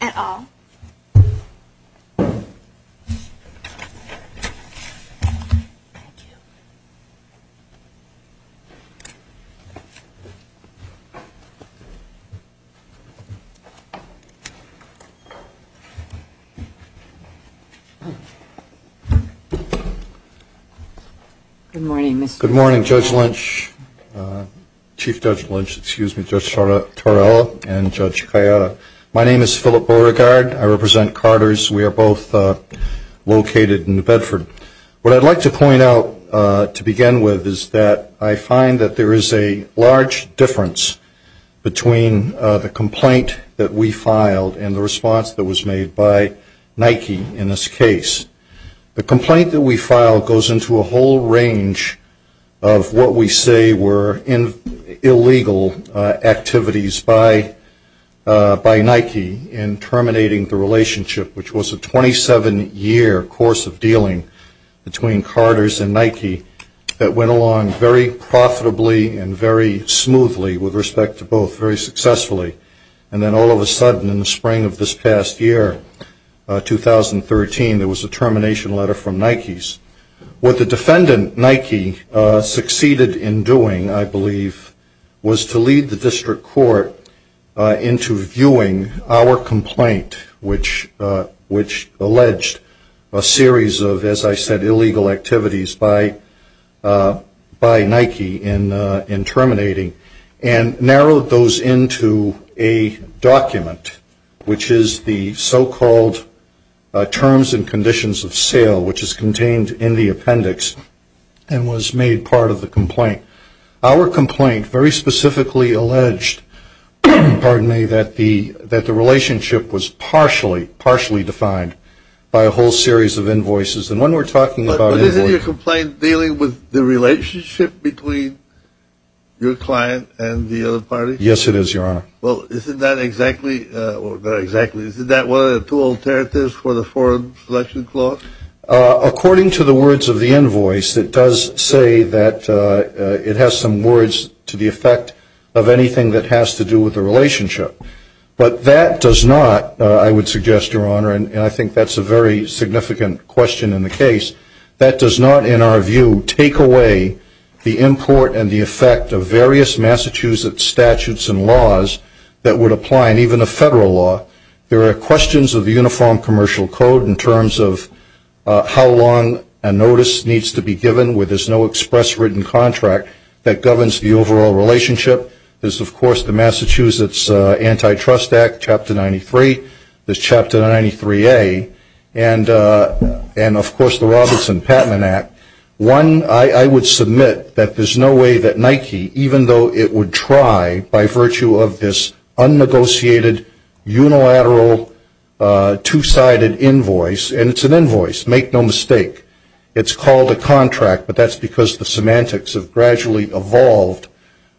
et al. Good morning, Judge Lynch, Chief Judge Lynch, excuse me, Judge Torello, and Judge Cayetta. My name is Philip Beauregard. I represent Carters. We are both located in New Bedford. What I'd like to point out to begin with is that I find that there is a large difference between the complaint that we filed and the response that was made by Nike in this case. The complaint that we filed goes into a whole range of what we say were illegal activities by Nike in terminating the relationship, which was a 27-year course of dealing between Carters and Nike that went along very profitably and very smoothly with respect to both, very successfully. And then all of a sudden, in the spring of this past year, 2013, there was a termination letter from Nike's. What the defendant, Nike, succeeded in doing, I believe, was to lead the district court into viewing our complaint, which alleged a series of, as I said, illegal activities by Nike in terminating, and narrowed those into what we call a termination letter or a document, which is the so-called terms and conditions of sale, which is contained in the appendix, and was made part of the complaint. Our complaint very specifically alleged, pardon me, that the relationship was partially, partially defined by a whole series of invoices. And when we're talking about invoices... But isn't your complaint dealing with the relationship between your client and the other party? Yes, it is, Your Honor. Well, isn't that exactly, well, not exactly, isn't that one of the two alternatives for the Foreign Selection Clause? According to the words of the invoice, it does say that it has some words to the effect of anything that has to do with the relationship. But that does not, I would suggest, Your Honor, and I think that's a very significant question in the case, that does not, in our view, take away the import and the effect of various Massachusetts statutes and laws that would apply in even a federal law. There are questions of the Uniform Commercial Code in terms of how long a notice needs to be given where there's no express written contract that governs the overall relationship. There's, of course, the Massachusetts Antitrust Act, Chapter 93, there's Chapter 93A, and, of course, the Robertson Patent Act. One, I would submit that there's no way that Nike, even though it would try, by virtue of this unnegotiated, unilateral, two-sided invoice, and it's an invoice, make no mistake, it's called a contract, but that's because the semantics have gradually evolved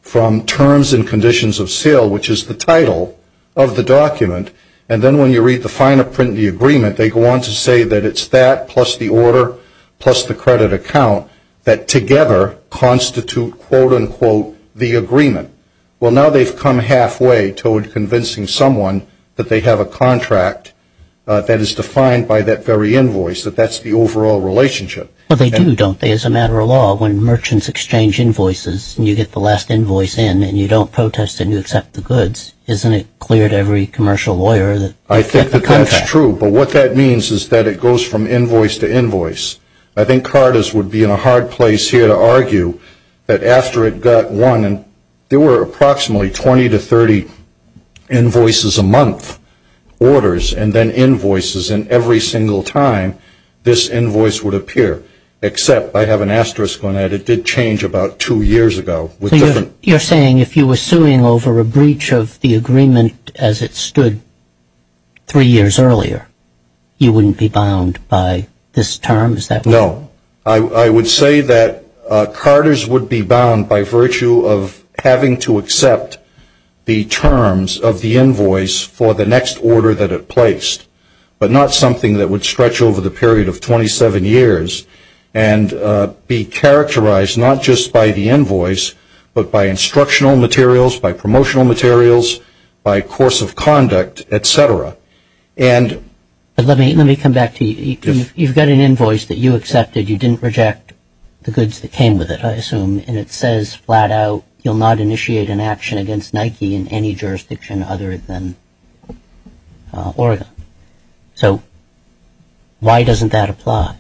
from terms and conditions of sale, which is the title of the document, and then when you read the final print of the agreement, they go on to say that it's that plus the order plus the credit account that together constitute, quote, unquote, the agreement. Well, now they've come halfway toward convincing someone that they have a contract that is defined by that very invoice, that that's the overall relationship. Well, they do, don't they? As a matter of law, when merchants exchange invoices, and you get the last invoice in, and you don't protest and you accept the goods, isn't it very commercial lawyer that you get the contract? I think that that's true, but what that means is that it goes from invoice to invoice. I think Carters would be in a hard place here to argue that after it got one, and there were approximately 20 to 30 invoices a month, orders, and then invoices, and every single time this invoice would appear, except I have an asterisk on that, it did change about two years ago. You're saying if you were suing over a breach of the agreement as it stood three years earlier, you wouldn't be bound by this term? No. I would say that Carters would be bound by virtue of having to accept the terms of the invoice for the next order that it placed, but not something that would stretch over the period of 27 years, and be characterized not just by the invoice, but by instructional materials, by promotional materials, by course of conduct, et cetera. Let me come back to you. You've got an invoice that you accepted. You didn't reject the goods that came with it, I assume, and it says flat out, you'll not initiate an action against Nike in any jurisdiction other than Oregon. So why doesn't that apply?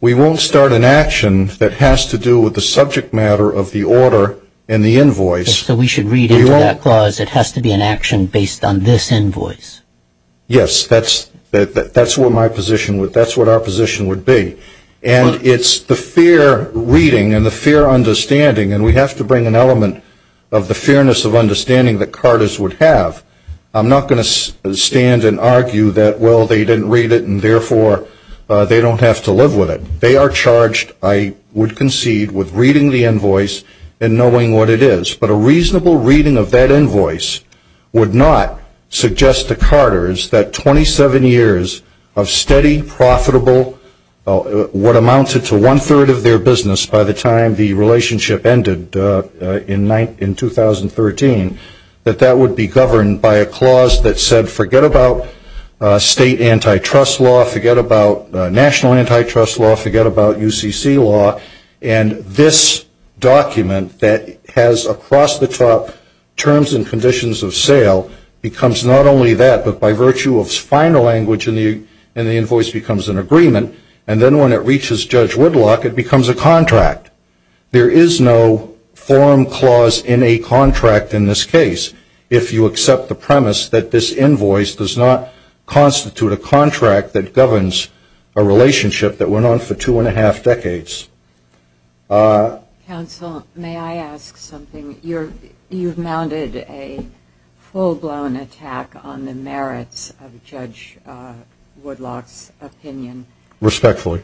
We won't start an action that has to do with the subject matter of the order and the invoice. So we should read into that clause, it has to be an action based on this invoice? Yes. That's what my position would be. That's what our position would be. And it's the fair reading and the fair understanding, and we have to bring an element of the fairness of understanding that Carters would have. I'm not going to stand and argue that, well, they didn't read it and therefore they don't have to live with it. They are charged, I would concede, with reading the invoice and knowing what it is. But a reasonable reading of that invoice would not suggest to Carters that 27 years of steady, profitable, what amounted to one-third of their business by the time the relationship ended in 2013, that that would be governed by a clause that said forget about state antitrust law, forget about national antitrust law, forget about UCC law, and this document that has across the top terms and conditions of sale becomes not only that, but by virtue of final language in the invoice becomes an agreement, and then when it reaches Judge Woodlock it becomes a contract. There is no form clause in a contract in this case if you accept the premise that this invoice does not constitute a contract that governs a relationship that went on for two and a half decades. Counsel, may I ask something? You've mounted a full-blown attack on the merits of Judge Woodlock's opinion. Respectfully.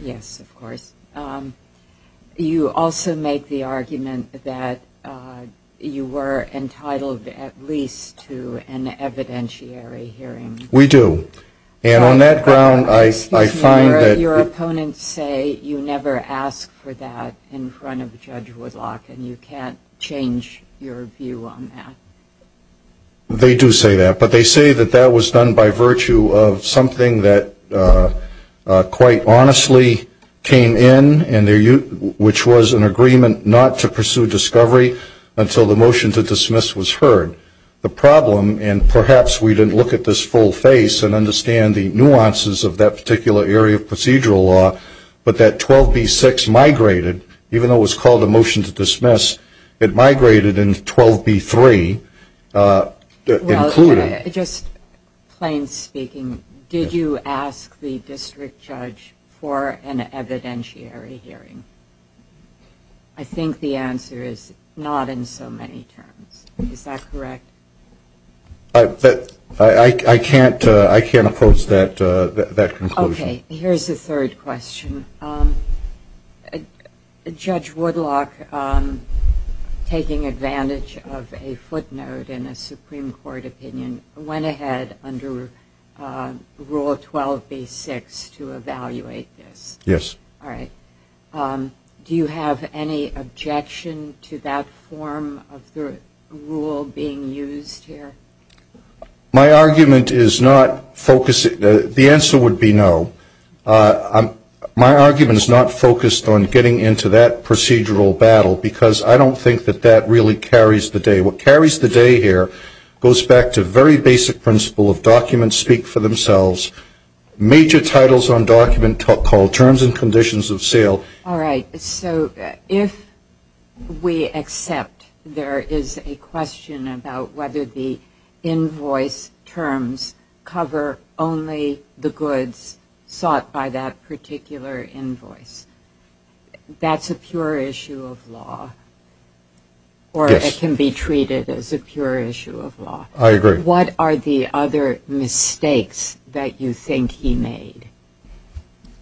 Yes, of course. You also make the argument that you were entitled at least to an evidentiary hearing. We do. And on that ground I find that Your opponents say you never ask for that in front of Judge Woodlock and you can't change your view on that. They do say that, but they say that that was done by virtue of something that quite honestly came in, which was an agreement not to pursue discovery until the motion to dismiss was heard. The problem, and perhaps we didn't look at this full face and understand the nuances of that particular area of procedural law, but that 12b6 migrated, even though it was called a motion to dismiss, it migrated in 12b3, included. Well, just plain speaking, did you ask the district judge for an evidentiary hearing? I think the answer is not in so many terms. Is that correct? I can't approach that conclusion. Here's a third question. Judge Woodlock, taking advantage of a footnote in a Supreme Court opinion, went ahead under Rule 12b6 to evaluate this. Do you have any objection to that form of the rule being used here? My argument is not focused. The answer would be no. My argument is not focused on getting into that procedural battle, because I don't think that that really carries the day. What carries the day here goes back to very basic principle of documents speak for themselves, major titles on document called Terms and Conditions of Sale. All right. So if we accept there is a question about whether the invoice terms cover only the goods sought by that particular invoice, that's a pure issue of law, or it can be treated as a pure issue of law. I agree. What are the other mistakes that you think he made?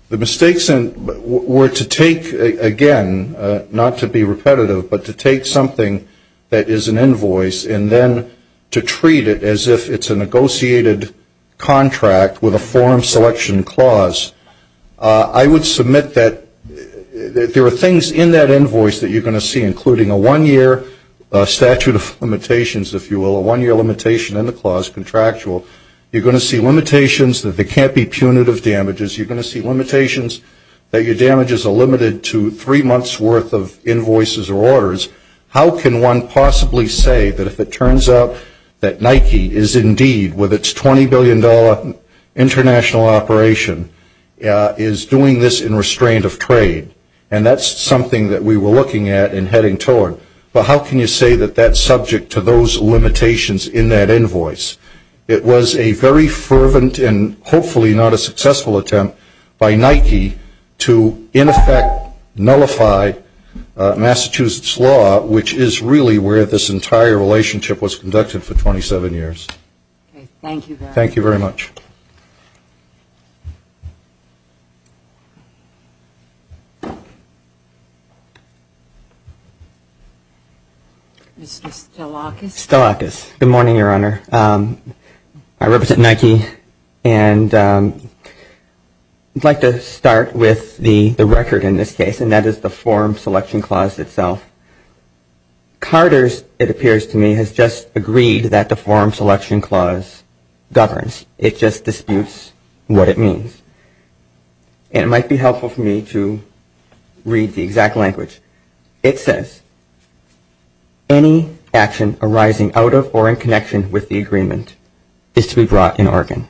The mistakes were to take, again, not to be repetitive, but to take something that is an invoice and then to treat it as if it's a negotiated contract with a form selection clause. I would submit that there are things in that invoice that you're going to see, including a one-year statute of limitations, if you will, a one-year limitation in the clause, contractual. You're going to see limitations that they can't be punitive damages. You're going to see limitations that your damages are limited to three months' worth of invoices or orders. How can one possibly say that if it turns out that Nike is indeed, with its $20 billion international operation, is doing this in restraint of trade? And that's something that we were looking at and heading toward, but how can you say that that's subject to those limitations in that invoice? It was a very fervent and hopefully not a successful attempt by Nike to, in effect, nullify Massachusetts law, which is really where this entire relationship was conducted for 27 years. Thank you very much. Mr. Stelakis. Good morning, Your Honor. I represent Nike, and I'd like to start with the record in this case, and that is the form selection clause itself. Carter's, it appears to me, has just agreed that the form selection clause governs. It just disputes what it means, and it might be helpful for me to read the exact language. It says, any action arising out of or in connection with the agreement is to be brought in Oregon.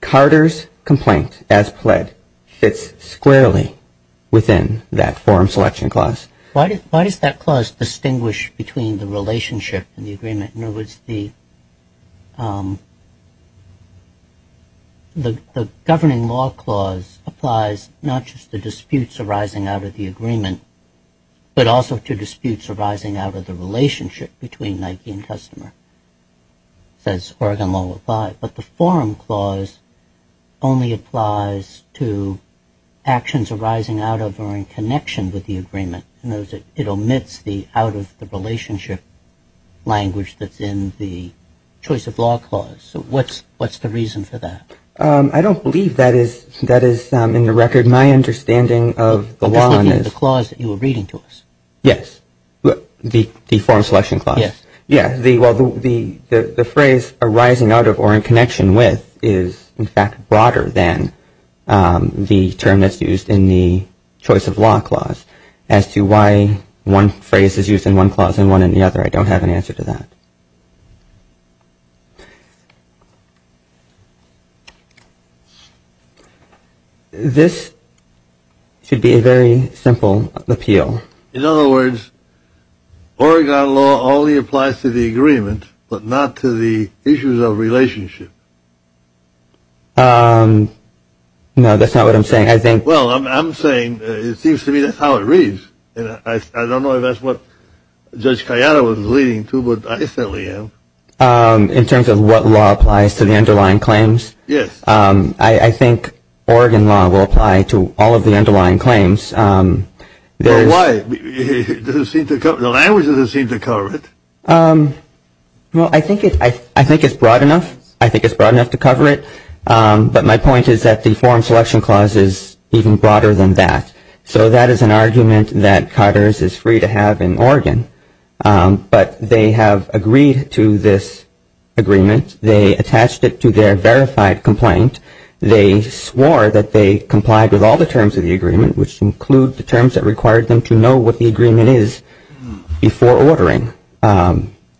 Carter's complaint, as pled, fits squarely within that form selection clause. Why does that clause distinguish between the relationship and the agreement? The governing law clause applies not just to disputes arising out of the agreement, but also to disputes arising out of the relationship between Nike and customer, says Oregon Law 5. But the form clause only applies to actions arising out of or in connection with the agreement. It omits the out-of-the-relationship language that's in the choice of law clause. So what's the reason for that? I don't believe that is in the record. My understanding of the law is... Just looking at the clause that you were reading to us. Yes, the form selection clause. The phrase arising out of or in connection with is, in fact, broader than the term that's used in the choice of law clause. As to why one phrase is used in one clause and one in the other, I don't have an answer to that. This should be a very simple appeal. In other words, Oregon law only applies to the agreement, but not to the issues of relationship. No, that's not what I'm saying. Well, I'm saying, it seems to me that's how it reads. I don't know if that's what Judge Kayada was leading to, but I certainly am. In terms of what law applies to the underlying claims, I think Oregon law will apply to all of the underlying claims. Why? The language doesn't seem to cover it. Well, I think it's broad enough. I think it's broad enough to cover it, but my point is that the form selection clause is even broader than that. So that is an argument that Cotters is free to have in Oregon. But they have agreed to this agreement. They attached it to their verified complaint. They swore that they complied with all the terms of the agreement, which include the terms that required them to know what the agreement is before ordering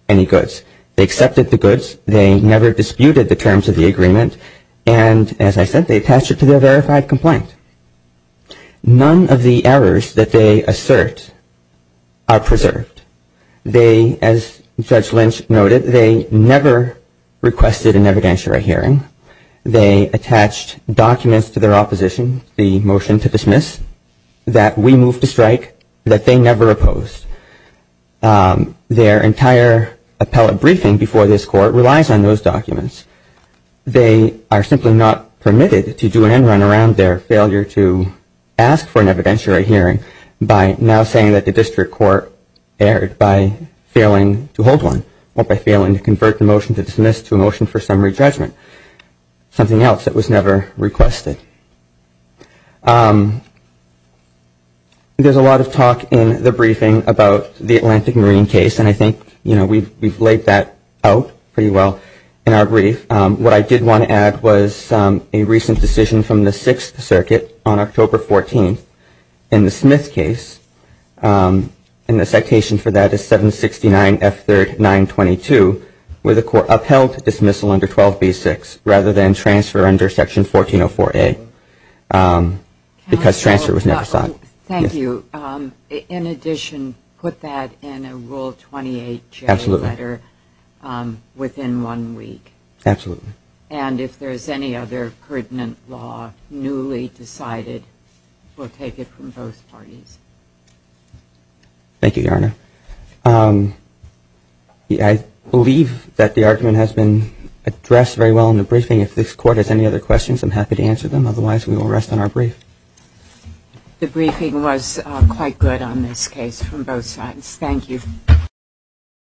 any goods. They accepted the goods. They never disputed the terms of the agreement. And as I said, they attached it to their verified complaint. None of the errors that they assert are preserved. They, as Judge Lynch noted, they never requested an evidentiary hearing. They attached documents to their opposition, the motion to dismiss, that we move to strike that they never opposed. Their entire appellate briefing before this court relies on those documents. They are simply not permitted to do an end run around their failure to ask for an evidentiary hearing by now saying that the district court erred by failing to hold one or by failing to convert the motion to dismiss to a motion for summary judgment, something else that was never requested. There's a lot of talk in the briefing about the Atlantic Marine case. And I think we've laid that out pretty well in our brief. What I did want to add was a recent decision from the Sixth Circuit on October 14th in the Smith case. And the citation for that is 769F3922, where the court upheld dismissal under 12B6 rather than transfer under Section 1404A because transfer was never sought. Thank you. In addition, put that in a Rule 28J letter within one week. Absolutely. And if there's any other pertinent law newly decided, we'll take it from both parties. Thank you, Your Honor. I believe that the argument has been addressed very well in the briefing. If this court has any other questions, I'm happy to answer them. Otherwise, we will rest on our brief.